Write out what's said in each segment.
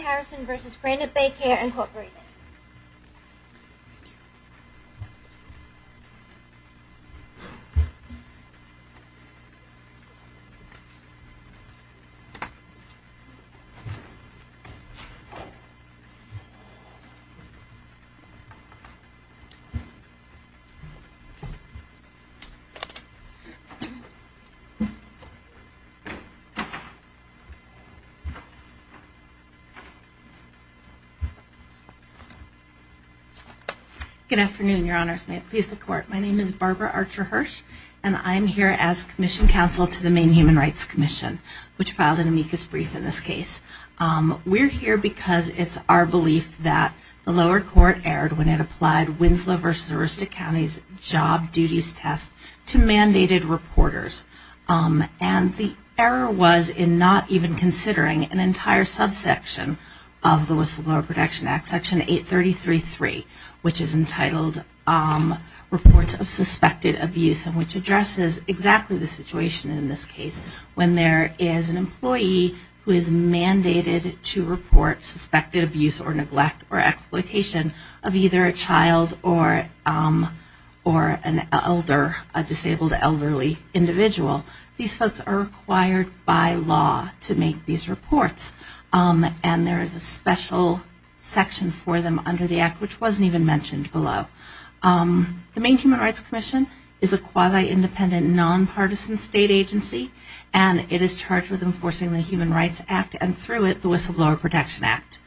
Harrison v. Granite Bay Care, Inc. Good afternoon, Your Honors. May it please the Court. My name is Barbara Archer-Hirsch, and I'm here as Commission Counsel to the Maine Human Rights Commission, which filed an amicus brief in this case. We're here because it's our belief that the lower court erred when it applied Winslow v. Arista County's job duties test to mandated reporters. And the error was in not even considering an entire subsection of the Whistleblower Protection Act, Section 833.3, which is entitled Reports of Suspected Abuse, and which addresses exactly the situation in this case when there is an employee who is mandated to report suspected abuse or neglect or exploitation of either a child or an elder, a disabled elderly individual. These folks are required by law to make these reports, and there is a special section for them under the Act which wasn't even mentioned below. The Maine Human Rights Commission is a quasi-independent, non-partisan state agency, and it is charged with enforcing the Human Rights Act, and through it, the Whistleblower Protection Act.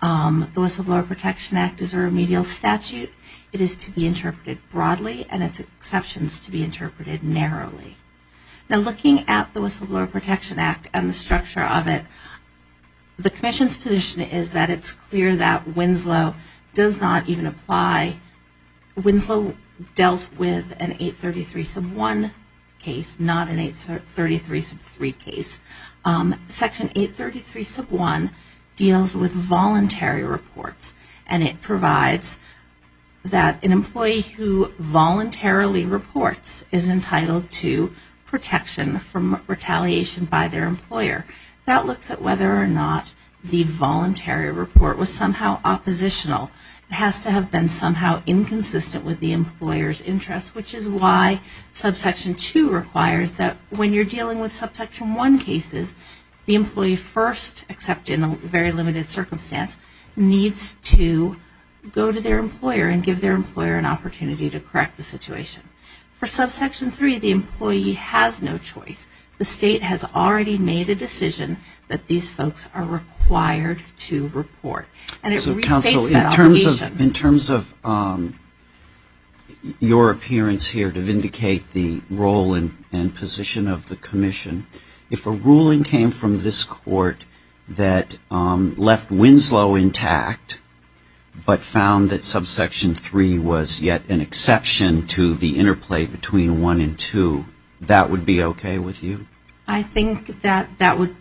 The Whistleblower Protection Act is a remedial statute. It is to be interpreted broadly, and its exceptions to be interpreted narrowly. Now looking at the Whistleblower Protection Act and the structure of it, the Commission's position is that it's clear that Winslow does not even apply, Winslow dealt with an 833.1 case, not an 833.3 case. Section 833.1 deals with voluntary reports, and it is entitled to protection from retaliation by their employer. That looks at whether or not the voluntary report was somehow oppositional. It has to have been somehow inconsistent with the employer's interest, which is why subsection 2 requires that when you're dealing with subsection 1 cases, the employee first, except in a very limited circumstance, needs to go to their employer and give their employer an opportunity to correct the situation. For subsection 3, the employee has no choice. The State has already made a decision that these folks are required to report. And it restates that obligation. In terms of your appearance here to vindicate the role and position of the Commission, if a ruling came from this Court that left Winslow intact, but found that subsection 3 was yet an exception to the interplay between 1 and 2, that would be okay with you? I think that that would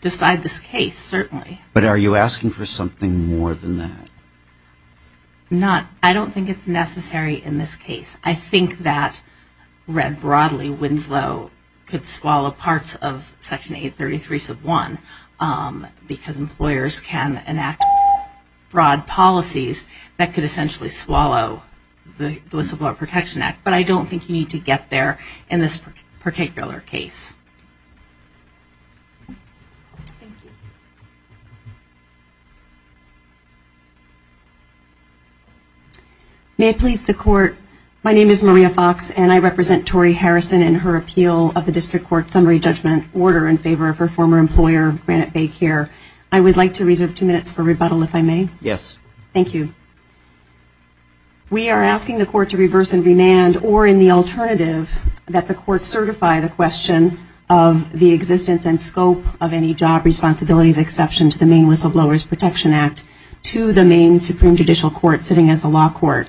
decide this case, certainly. But are you asking for something more than that? I don't think it's necessary in this case. I think that read broadly, Winslow could swallow parts of section 833.1 because employers can enact broad policies that could essentially swallow the List of Law Protection Act. But I don't think you need to get there in this particular case. Thank you. May it please the Court, my name is Maria Fox and I represent Tori Harrison in her appeal of the District Court Summary Judgment Order in favor of her former employer, Granite Bay Care. I would like to reserve two minutes for rebuttal, if I may. Yes. Thank you. We are asking the Court to reverse and remand, or in the alternative, that the Court certify the question of the existence and scope of any job responsibilities exception to the Maine Whistleblowers Protection Act to the Maine Supreme Judicial Court sitting as the law court.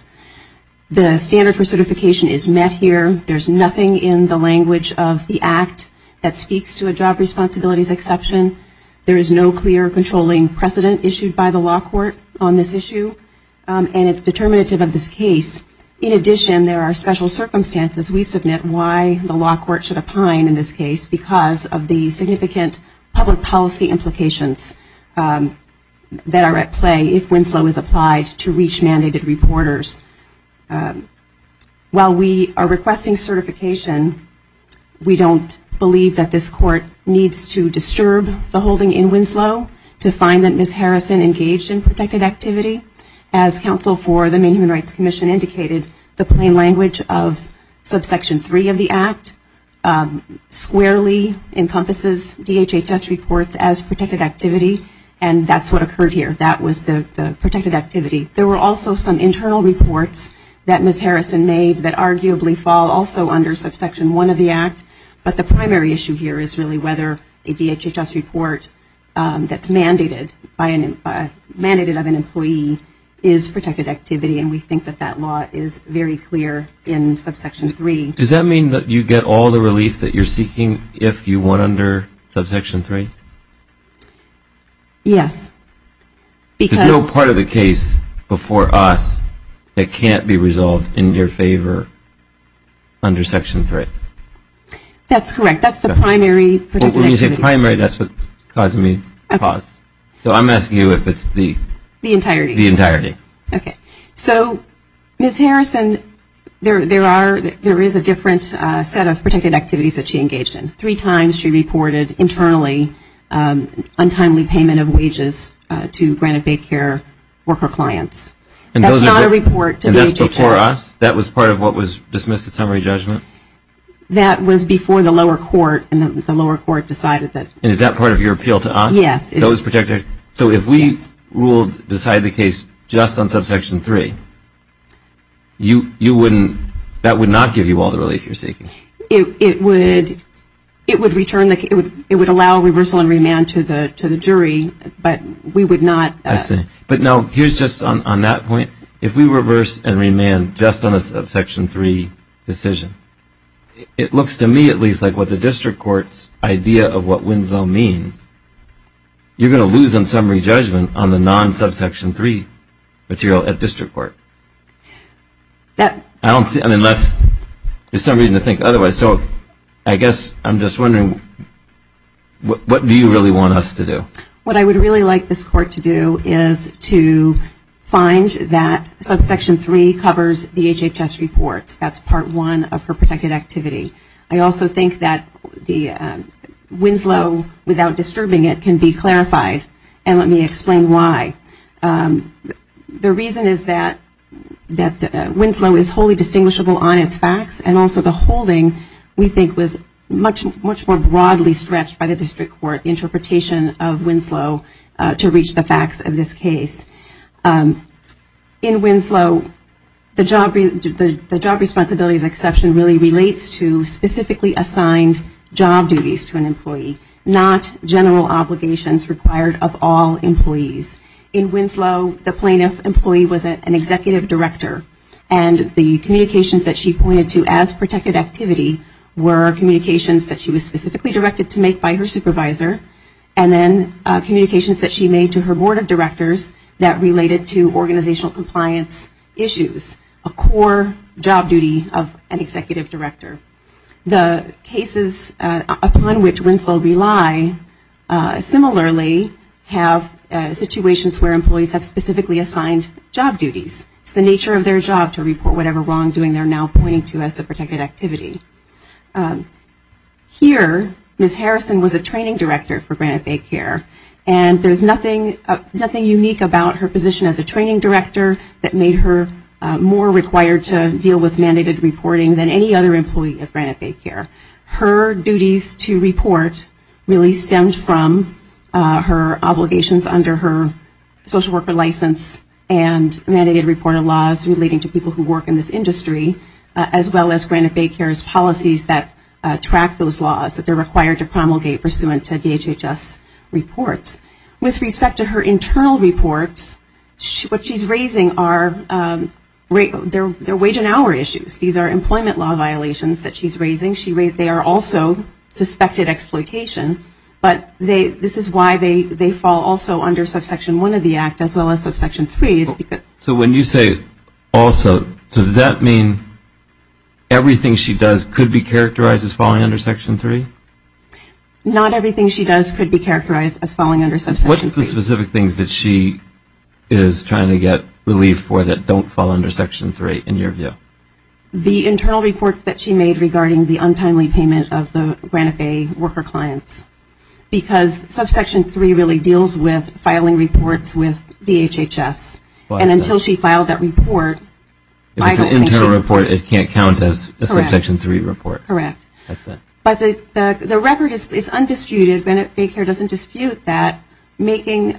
The standard for certification is met here. There's nothing in the language of the Act that speaks to a job responsibilities exception. There is no clear controlling precedent issued by the law court on this issue, and it's determinative of this case. In addition, there are special circumstances we submit why the law court should opine in this case because of the significant public policy implications that are at play if Winslow is applied to reach mandated reporters. While we are requesting certification, we don't believe that this Ms. Harrison engaged in protected activity. As counsel for the Maine Human Rights Commission indicated, the plain language of Subsection 3 of the Act squarely encompasses DHHS reports as protected activity, and that's what occurred here. That was the protected activity. There were also some internal reports that Ms. Harrison made that arguably fall also under Subsection 1 of the Act, but the primary issue here is really whether a DHHS report that's mandated by an employee is protected activity, and we think that that law is very clear in Subsection 3. Does that mean that you get all the relief that you're seeking if you won under Subsection 3? Yes. Because... There's no part of the case before us that can't be resolved in your favor under Section 3? That's correct. That's the primary protected activity clause. So I'm asking you if it's the entirety. So Ms. Harrison, there is a different set of protected activities that she engaged in. Three times she reported internally untimely payment of wages to granted daycare worker clients. That's not a report to DHHS. And that's before us? That was part of what was dismissed at summary judgment? That was before the lower court, and the lower court decided that... And is that part of your appeal to us? Yes, it is. So if we ruled, decided the case just on Subsection 3, that would not give you all the relief you're seeking? It would return, it would allow reversal and remand to the jury, but we would not... I see. But no, here's just on that point. If we reverse and remand just on a Subsection 3 decision, it looks to me at least like what Winslow means, you're going to lose on summary judgment on the non-Subsection 3 material at district court. I don't see, unless, there's some reason to think otherwise. So I guess I'm just wondering, what do you really want us to do? What I would really like this court to do is to find that Subsection 3 covers DHHS reports. That's Part 1 of her protected activity. I also think that Winslow, without disturbing it, can be clarified, and let me explain why. The reason is that Winslow is wholly distinguishable on its facts, and also the holding, we think, was much more broadly stretched by the district court interpretation of Winslow to reach the facts of this case. In Winslow, the job responsibilities exception really relates to specifically assigned job duties to an employee, not general obligations required of all employees. In Winslow, the plaintiff employee was an executive director, and the communications that she pointed to as protected activity were communications that she was specifically directed to make by her supervisor, and then communications that she made to her board of directors that related to organizational compliance issues, a core job duty of an executive director. The cases upon which Winslow rely similarly have situations where employees have specifically assigned job duties. It's the nature of their job to report whatever wrongdoing they're now pointing to as the protected activity. Here Ms. Harrison was a training director for Granite Bay Care, and there's nothing unique about her position as a training director that made her more required to deal with mandated reporting than any other employee at Granite Bay Care. Her duties to report really stemmed from her obligations under her social worker license and mandated reporter laws relating to people who work in this industry, as well as Granite Bay Care's policies that track those laws that they're required to promulgate pursuant to DHHS reports. With respect to her internal reports, what she's raising are their wage and hour issues. These are employment law violations that she's raising. They are also suspected exploitation, but this is why they fall also under subsection one of the act as well as subsection three. So when you say also, does that mean everything she does could be characterized as falling under section three? Not everything she does could be characterized as falling under subsection three. What's the specific things that she is trying to get relief for that don't fall under section three, in your view? The internal report that she made regarding the untimely payment of the Granite Bay worker clients, because subsection three really deals with filing reports with DHHS, and until she filed that report, I don't think she would- If it's an internal report, it can't count as a subsection three report. Correct. But the record is undisputed. Granite Bay Care doesn't dispute that making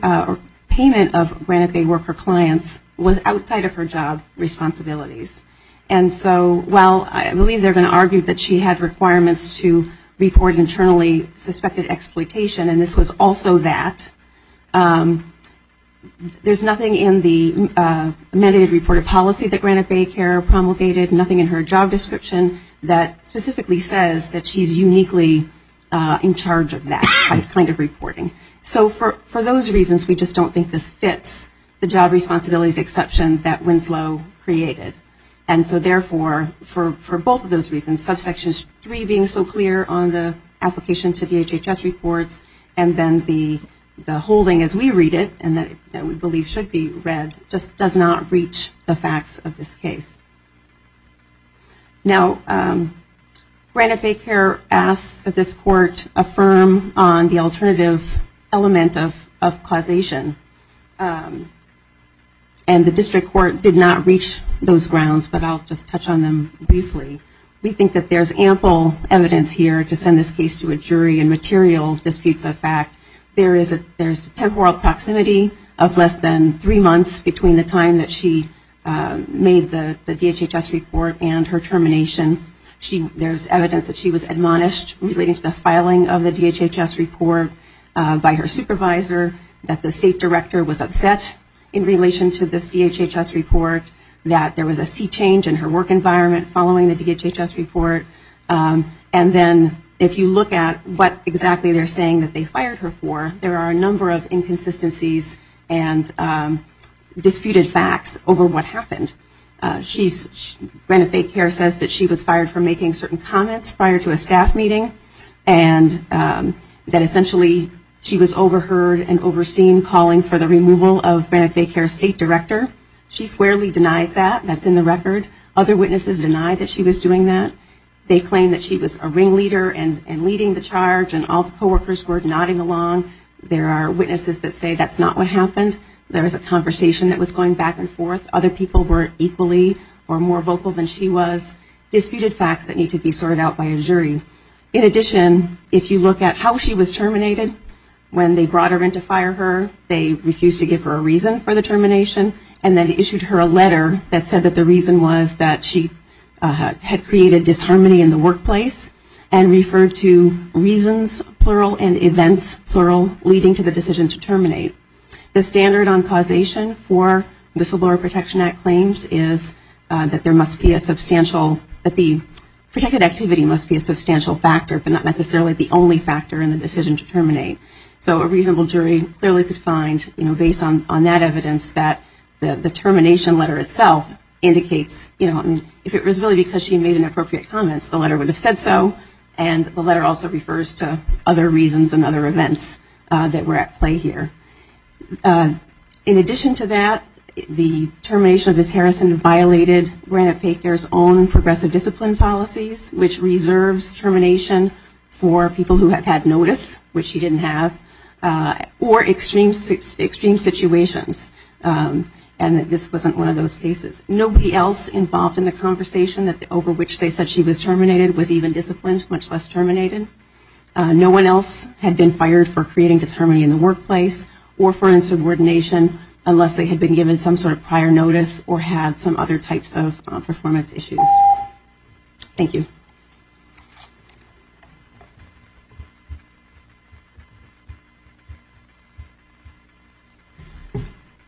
payment of Granite Bay worker clients was outside of her job responsibilities. And so while I believe they're going to argue that she had requirements to report internally suspected exploitation, and this was also that, there's nothing in the mandated reported policy that Granite Bay Care promulgated, nothing in her job description that specifically says that she's uniquely in charge of that kind of reporting. So for those reasons, we just don't think this fits the job responsibilities exception that Winslow created. And so therefore, for both of those reasons, subsection three being so clear on the application to DHHS reports, and then the holding as we read it, and that we believe should be read, just does not reach the facts of this case. Now Granite Bay Care asks that this court affirm on the alternative element of causation, and the district court did not reach those grounds, but I'll just touch on them briefly. We think that there's ample evidence here to send this case to a jury and material disputes of fact. There is a temporal proximity of less than three months between the time that she made the DHHS report and her termination. There's evidence that she was admonished relating to the filing of the DHHS report by her supervisor, that the state director was upset in relation to this DHHS report, that there was a sea change in her work environment following the DHHS report, and then if you look at what exactly they're saying that they fired her for, there are a number of inconsistencies and disputed facts over what happened. Granite Bay Care says that she was fired for making certain comments prior to a staff meeting, and that essentially she was overheard and overseen calling for the removal of Granite Bay Care's state director. She squarely denies that, that's in the record. Other witnesses deny that she was doing that. They claim that she was a ringleader and leading the charge and all the co-workers were nodding along. There are witnesses that say that's not what happened. There was a conversation that was going back and forth. Other people were equally or more vocal than she was. Disputed facts that need to be sorted out by a jury. In addition, if you look at how she was terminated, when they brought her in to fire her, they refused to give her a reason for the termination and then issued her a letter that said that the reason was that she had created disharmony in the workplace and referred to reasons, plural, and events, plural, leading to the decision to terminate. The standard on causation for the Civil Law Protection Act claims is that there must be a substantial, that the protected activity must be a substantial factor, but not necessarily the only factor in the decision to terminate. So a reasonable jury clearly could find, you know, based on that evidence, that the termination letter itself indicates, you know, if it was really because she made inappropriate comments, the letter would have said so, and the letter also refers to other reasons and other events that were at play here. In addition to that, the termination of Ms. Harrison violated Granted Pay Care's own progressive discipline policies, which reserves termination for people who have had notice, which she didn't have, or extreme situations, and that this wasn't one of those cases. Nobody else involved in the conversation over which they said she was terminated was even disciplined, much less terminated. No one else had been fired for creating disharmony in the workplace or for insubordination unless they had been given some sort of prior notice or had some other types of performance issues. Thank you.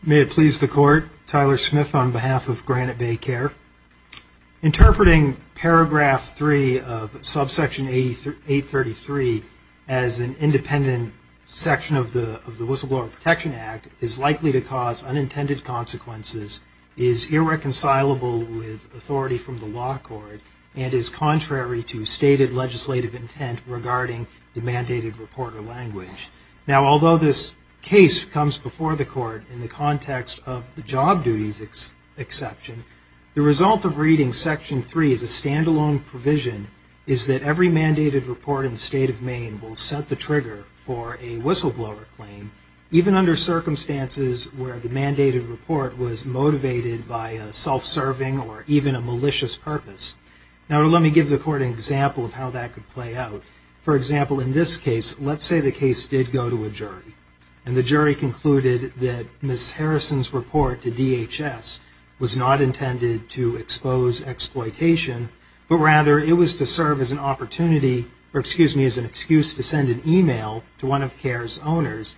May it please the Court, Tyler Smith on behalf of Granted Pay Care. Interpreting paragraph 3 of subsection 833 as an independent section of the Whistleblower Protection Act is likely to cause unintended consequences, is irreconcilable with authority from the law court, and is contrary to stated legislative intent regarding the mandated report or language. Now, although this case comes before the Court in the context of the job duties exception, the result of reading section 3 as a stand-alone provision is that every mandated report in the state of Maine will set the trigger for a whistleblower claim, even under circumstances where the mandated report was motivated by self-serving or even a malicious purpose. Now, let me give the Court an example of how that could play out. For example, in this case, let's say the case did go to a jury, and the jury concluded that Ms. Harrison's report to DHS was not intended to expose exploitation, but rather it was to serve as an opportunity, or excuse me, as an excuse to send an email to one of CARE's owners,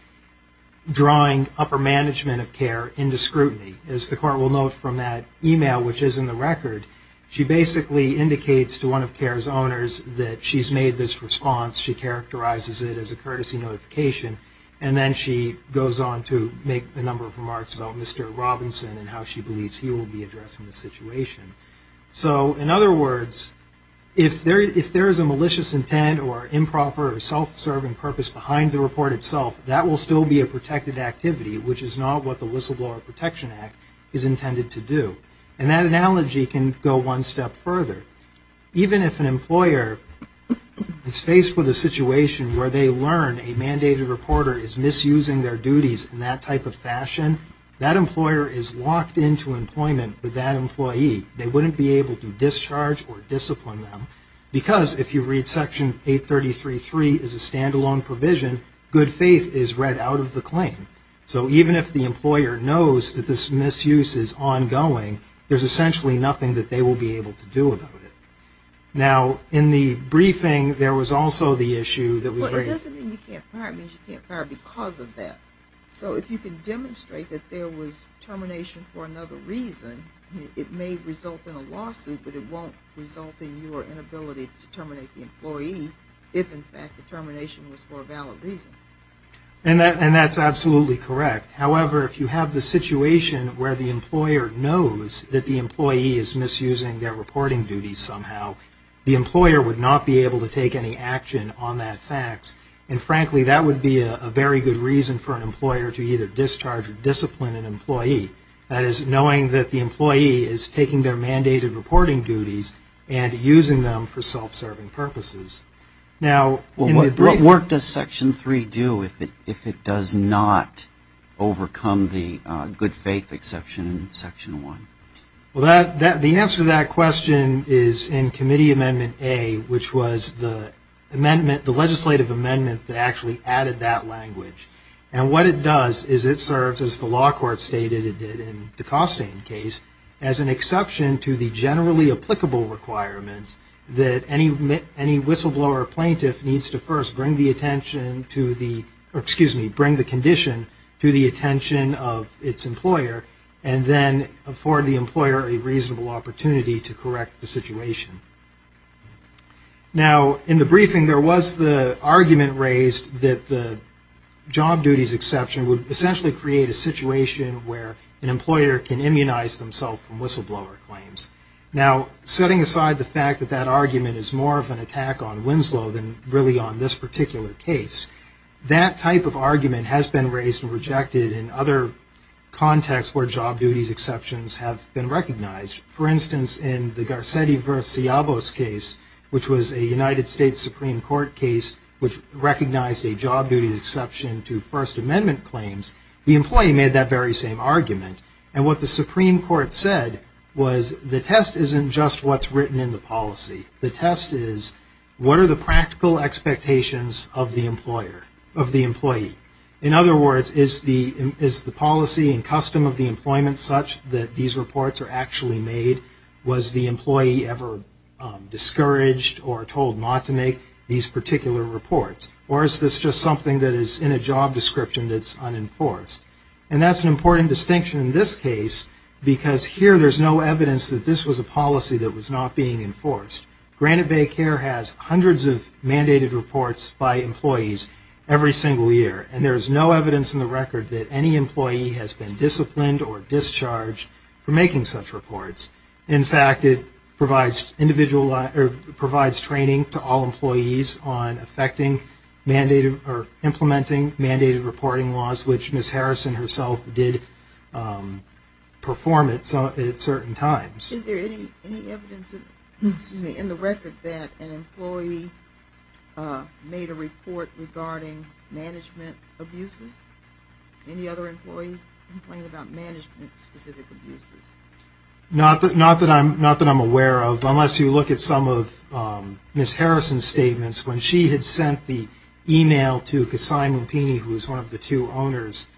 drawing upper management of CARE into scrutiny. As the Court will note from that email, which is in the record, she basically indicates to one of CARE's owners that she's made this response, she characterizes it as a courtesy notification, and then she goes on to make a number of remarks about Mr. Robinson and how she believes he will be addressing the situation. So, in other words, if there is a malicious intent or improper or self-serving purpose behind the report itself, that will still be a protected activity, which is not what the Whistleblower Protection Act is intended to do. And that analogy can go one step further. Even if an employer is faced with a situation where they learn a mandated reporter is misusing their duties in that type of fashion, that employer is locked into employment with that employee. They wouldn't be able to discharge or discipline them, because if you read Section 833.3 as a stand-alone provision, good faith is read out of the claim. So even if the employer knows that this misuse is ongoing, there's essentially nothing that they will be able to do about it. Now, in the briefing, there was also the issue that was raised... Well, it doesn't mean you can't fire. It means you can't fire because of that. So if you can demonstrate that there was termination for another reason, it may result in a lawsuit, but it won't result in your inability to terminate the employee if, in fact, the termination was for a valid reason. And that's absolutely correct. However, if you have the situation where the employer knows that the employee is misusing their reporting duties somehow, the employer would not be able to take any action on that fact. And frankly, that would be a very good reason for an employer to either discharge or discipline an employee. That is, knowing that the employee is taking their mandated reporting duties and using them for self-serving purposes. Now, what work does Section 3 do if it does not overcome the good-faith exception in Section 1? Well, the answer to that question is in Committee Amendment A, which was the legislative amendment that actually added that language. And what it does is it serves, as the law court stated it did in the Costain case, as an exception to the generally applicable requirements that any whistleblower or plaintiff needs to first bring the condition to the attention of its employer and then afford the employer a reasonable opportunity to correct the situation. Now in the briefing, there was the argument raised that the job duties exception would essentially create a situation where an employer can immunize themselves from whistleblower claims. Now, setting aside the fact that that argument is more of an attack on Winslow than really on this particular case, that type of argument has been raised and rejected in other contexts where job duties exceptions have been recognized. For instance, in the Garcetti v. Siavos case, which was a United States Supreme Court case which recognized a job duties exception to First Amendment claims, the employee made that very same argument. And what the Supreme Court said was the test isn't just what's written in the policy. The test is what are the practical expectations of the employee? In other words, is the policy and custom of the employment such that these reports are actually made? Was the employee ever discouraged or told not to make these particular reports? Or is this just something that is in a job description that's unenforced? And that's an important distinction in this case because here there's no evidence that this was a policy that was not being enforced. Granite Bay Care has hundreds of mandated reports by employees every single year and there's no evidence in the record that any employee has been disciplined or discharged for making such reports. In fact, it provides individual or provides training to all employees on effecting mandated or implementing mandated reporting laws which Ms. Harrison herself did perform at certain times. Is there any evidence in the record that an employee made a report regarding management abuses? Any other employee complain about management specific abuses? Not that I'm aware of unless you look at some of Ms. Harrison's statements. When she had sent the email to Kasai Mumpini, who was one of the two owners,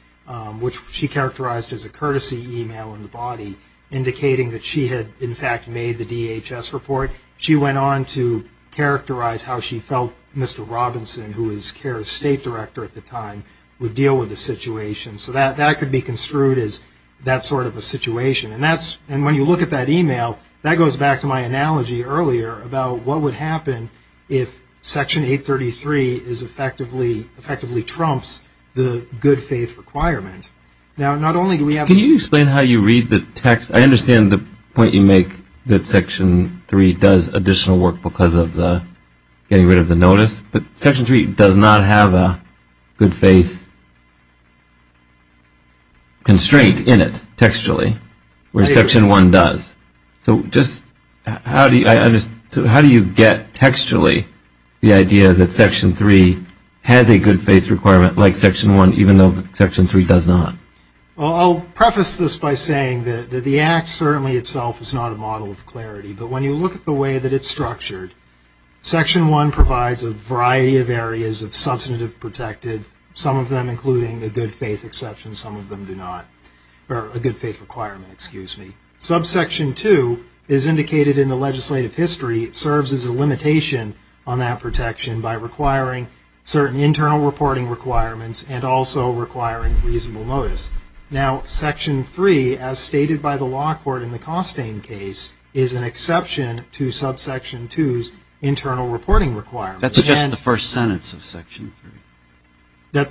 which she characterized as a courtesy email in the body indicating that she had in fact made the DHS report, she went on to characterize how she felt Mr. Robinson, who was Care's state director at the time, would deal with the situation. So that could be construed as that sort of a situation. And when you look at that email, that goes back to my analogy earlier about what would happen if Section 833 effectively trumps the good faith requirement. Now not only do we have to explain how you read the text, I understand the point you make that Section 3 does additional work because of the getting rid of the notice, but Section 3 does not have a good faith constraint in it textually where Section 1 does. So just how do you get textually the idea that Section 3 has a good faith requirement like Section 1 even though Section 3 does not? I'll preface this by saying that the act certainly itself is not a model of clarity, but when you look at the way that it's structured, Section 1 provides a variety of areas of substantive protective, some of them including the good faith exception, some of them do not, or a good faith requirement, excuse me. Subsection 2 is indicated in the legislative history, it serves as a limitation on that protection by requiring certain internal reporting requirements and also requiring reasonable notice. Now Section 3, as stated by the law court in the subsection 2's internal reporting requirement. That's just the first sentence of Section 3.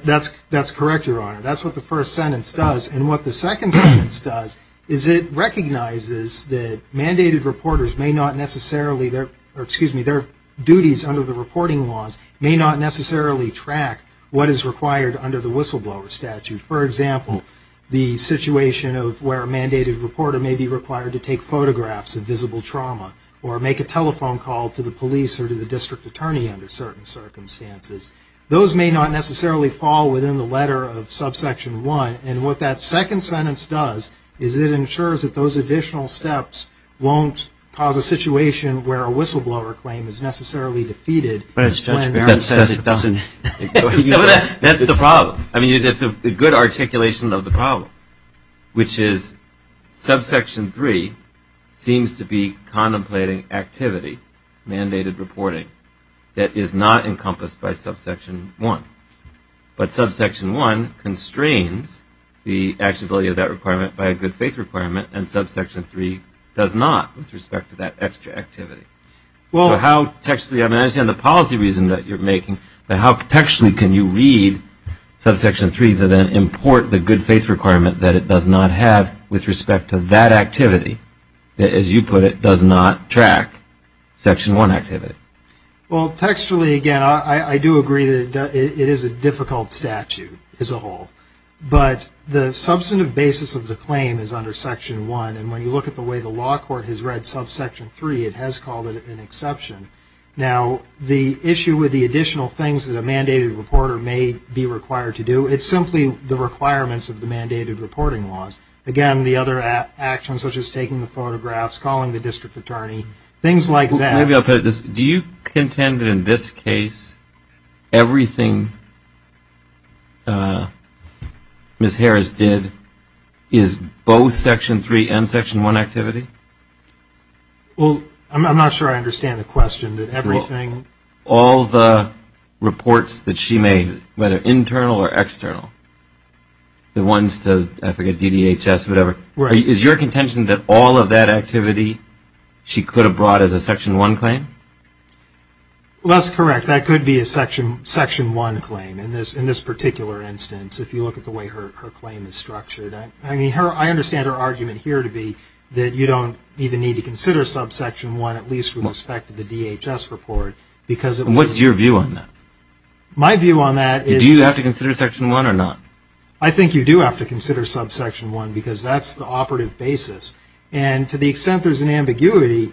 That's correct, Your Honor. That's what the first sentence does. And what the second sentence does is it recognizes that mandated reporters may not necessarily, or excuse me, their duties under the reporting laws may not necessarily track what is required under the whistleblower statute. For example, the situation of where a mandated reporter may be required to take photographs of visible trauma or make a telephone call to the police or to the district attorney under certain circumstances. Those may not necessarily fall within the letter of subsection 1, and what that second sentence does is it ensures that those additional steps won't cause a situation where a whistleblower claim is necessarily defeated. But as Judge Barron says, it doesn't. That's the problem. I mean, it's a good articulation of the problem, which is subsection 3 is a seems to be contemplating activity, mandated reporting, that is not encompassed by subsection 1. But subsection 1 constrains the actuality of that requirement by a good-faith requirement, and subsection 3 does not with respect to that extra activity. So how textually, I understand the policy reason that you're making, but how textually can you read subsection 3 to then import the good-faith requirement that it does not have with respect to that activity that, as you put it, does not track section 1 activity? Well, textually, again, I do agree that it is a difficult statute as a whole, but the substantive basis of the claim is under section 1, and when you look at the way the law court has read subsection 3, it has called it an exception. Now the issue with the additional things that a mandated reporter may be required to do, it's simply the requirements of the mandated reporting laws. Again, the other actions, such as taking the photographs, calling the district attorney, things like that. Maybe I'll put it this way. Do you contend that in this case, everything Ms. Harris did is both section 3 and section 1 activity? Well, I'm not sure I understand the question, that everything... All the reports that she made, whether internal or external, the ones to, I forget, DDHS, whatever, is your contention that all of that activity she could have brought as a section 1 claim? Well, that's correct. That could be a section 1 claim in this particular instance, if you look at the way her claim is structured. I mean, I understand her argument here to be that you don't even need to consider subsection 1, at least with respect to the DHS report, because it was... What's your view on that? My view on that is... Do you have to consider section 1 or not? I think you do have to consider subsection 1, because that's the operative basis. And to the extent there's an ambiguity,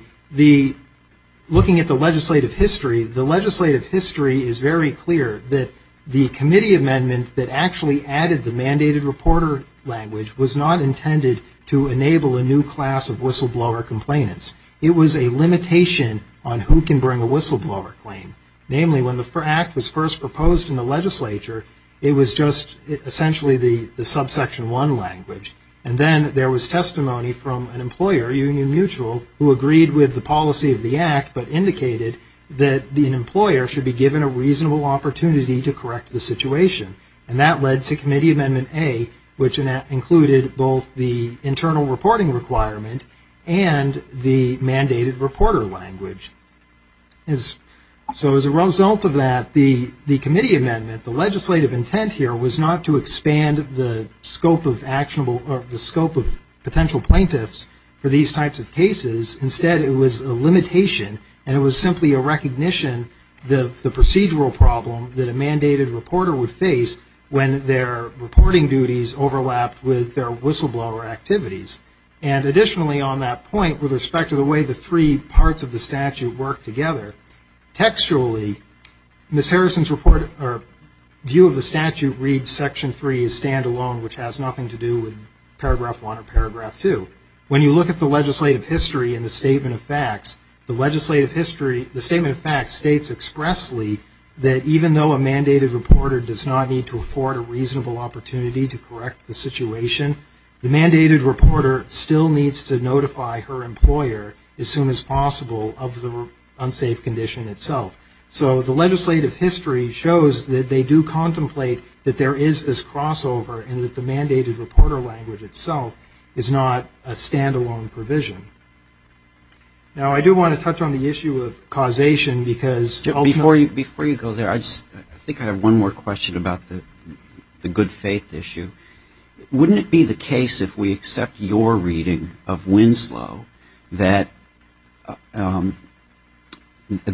looking at the legislative history, the legislative history is very clear that the committee amendment that actually added the mandated reporter language was not intended to enable a new class of whistleblower complainants. It was a limitation on who can bring a whistleblower claim. Namely, when the act was first proposed in the legislature, it was just essentially the subsection 1 language. And then there was testimony from an employer, Union Mutual, who agreed with the policy of the act, but indicated that the employer should be given a reasonable opportunity to correct the situation. And that led to committee amendment A, which included both the internal reporting requirement and the mandated reporter language. So as a result of that, the committee amendment, the legislative intent here, was not to expand the scope of actionable or the scope of potential plaintiffs for these types of cases. Instead, it was a limitation, and it was simply a recognition of the procedural problem that a mandated reporter would face when their reporting duties overlapped with their whistleblower activities. And additionally on that point, with respect to the way the three parts of the statute work together, textually, Ms. Harrison's view of the statute reads Section 3 as standalone, which has nothing to do with Paragraph 1 or Paragraph 2. When you look at the legislative history in the Statement of Facts, the Statement of Facts states expressly that even though a mandated reporter does not need to afford a reasonable opportunity to correct the situation, the mandated reporter still needs to notify her employer as soon as possible of the unsafe condition itself. So the legislative history shows that they do contemplate that there is this crossover and that the mandated reporter language itself is not a standalone provision. Now I do want to touch on the issue of causation, because ultimately Before you go there, I think I have one more question about the good faith issue. Wouldn't it be the case if we accept your reading of Winslow that an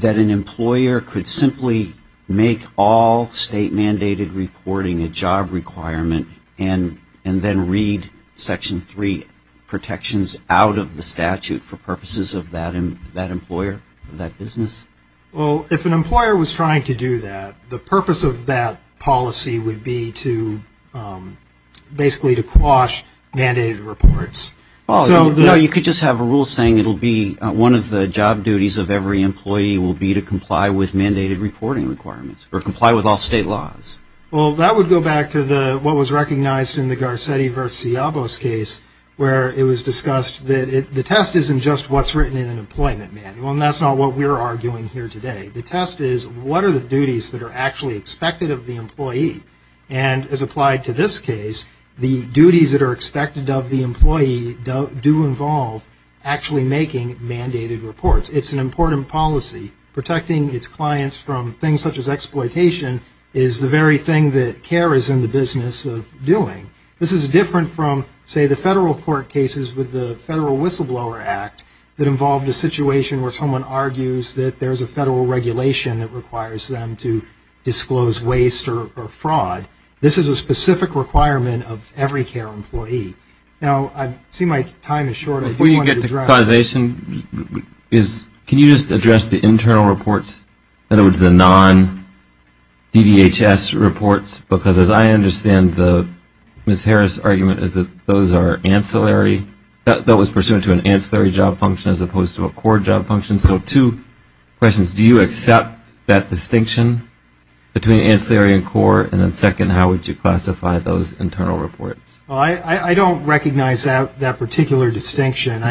employer could simply make all state mandated reporting a job requirement and then read Section 3 protections out of the statute for purposes of that employer, that business? Well, if an employer was trying to do that, the purpose of that policy would be to basically to quash mandated reports. You could just have a rule saying it will be one of the job duties of every employee will be to comply with mandated reporting requirements, or comply with all state laws. Well, that would go back to what was recognized in the Garcetti v. Ciabos case, where it was discussed that the test isn't just what's written in an employment manual, and that's not what we're arguing here today. The test is what are the duties that are actually expected of the employee. And as applied to this case, the duties that are expected of the employee do involve actually making mandated reports. It's an important policy. Protecting its clients from things such as exploitation is the very thing that CARE is in the business of doing. This is different from, say, the federal court cases with the Federal Whistleblower Act that involved a situation where someone argues that there's a federal regulation that requires them to disclose waste or fraud. This is a specific requirement of every CARE employee. Now, I see my time is short. I do want to address Before you get to causation, can you just address the internal reports? In other words, the non-DVHS reports? Because as I understand the Ms. Harris argument is that those are ancillary, that was pursuant to an ancillary job function as opposed to a core job function. So two questions. Do you accept that distinction between ancillary and core? And then second, how would you classify those internal reports? Well, I don't recognize that particular distinction.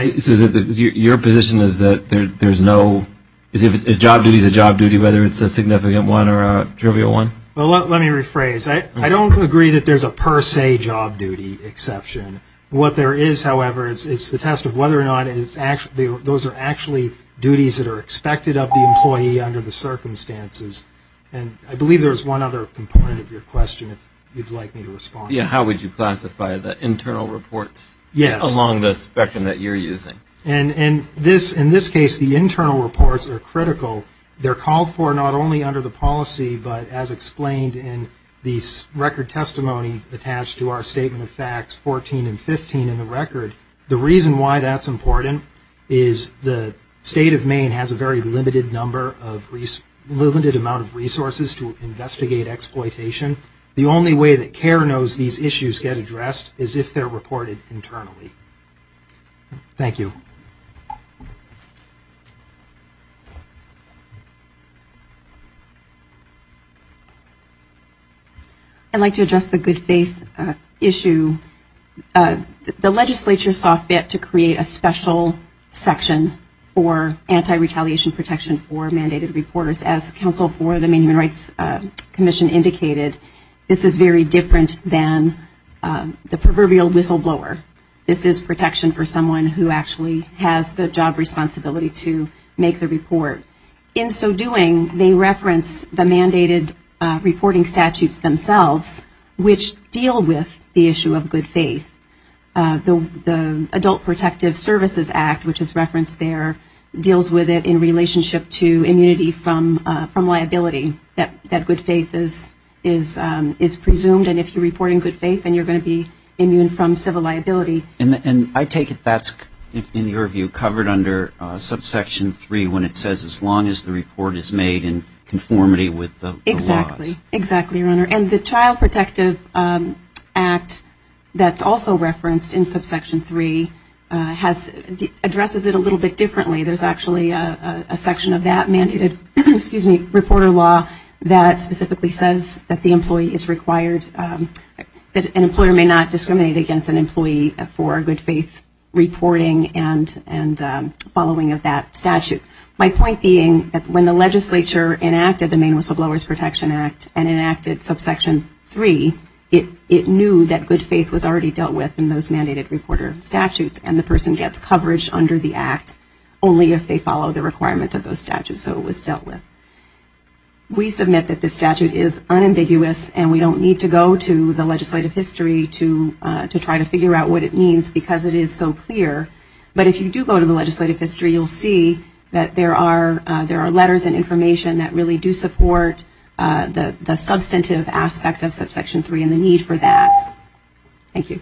Your position is that there's no, job duty is a job duty whether it's a significant one or a trivial one? Let me rephrase. I don't agree that there's a per se job duty exception. What there is, however, it's the test of whether or not those are actually duties that are expected of the employee under the circumstances. And I believe there's one other component of your question if you'd like me to respond. How would you classify the internal reports along the spectrum that you're using? And in this case, the internal reports are critical. They're called for not only under the policy, but as explained in the record testimony attached to our statement of facts 14 and 15 in the record. The reason why that's important is the state of Maine has a very limited number of, limited amount of resources to investigate exploitation. The only way that CARE knows these issues get addressed is if they're reported internally. Thank you. I'd like to address the good faith issue. The legislature saw fit to create a special section for anti-retaliation protection for mandated reporters. As counsel for the Maine Human Rights Commission indicated, this is very different than the proverbial whistleblower. This is protection for someone who actually has the job responsibility to make the report. In so doing, they reference the mandated reporting statutes themselves, which deal with the issue of good faith. The Adult Protective Services Act, which is referenced there, deals with it in relationship to immunity from liability, that good faith is presumed. And if you report in good faith, then you're going to be immune from civil liability. And I take it that's, in your view, covered under subsection 3, when it says as long as the report is made in conformity with the laws. Exactly, exactly, your honor. And the Child Protective Act that's also referenced in subsection 3 addresses it a little bit differently. There's actually a section of that mandated reporter law that specifically says that the employee is required, that an employer may not discriminate against an employee for good faith reporting and following of that statute. My point being that when the legislature enacted the Maine Whistleblowers Protection Act and enacted subsection 3, it knew that good faith was already dealt with in those mandated reporter statutes and the person gets coverage under the act only if they follow the requirements of those statutes. So it was dealt with. We submit that this statute is unambiguous and we don't need to go to the legislative history to try to figure out what it means because it is so clear. But if you do go to the legislative history, you'll see that there are letters and information that really do support the substantive aspect of subsection 3 and the need for that. Thank you.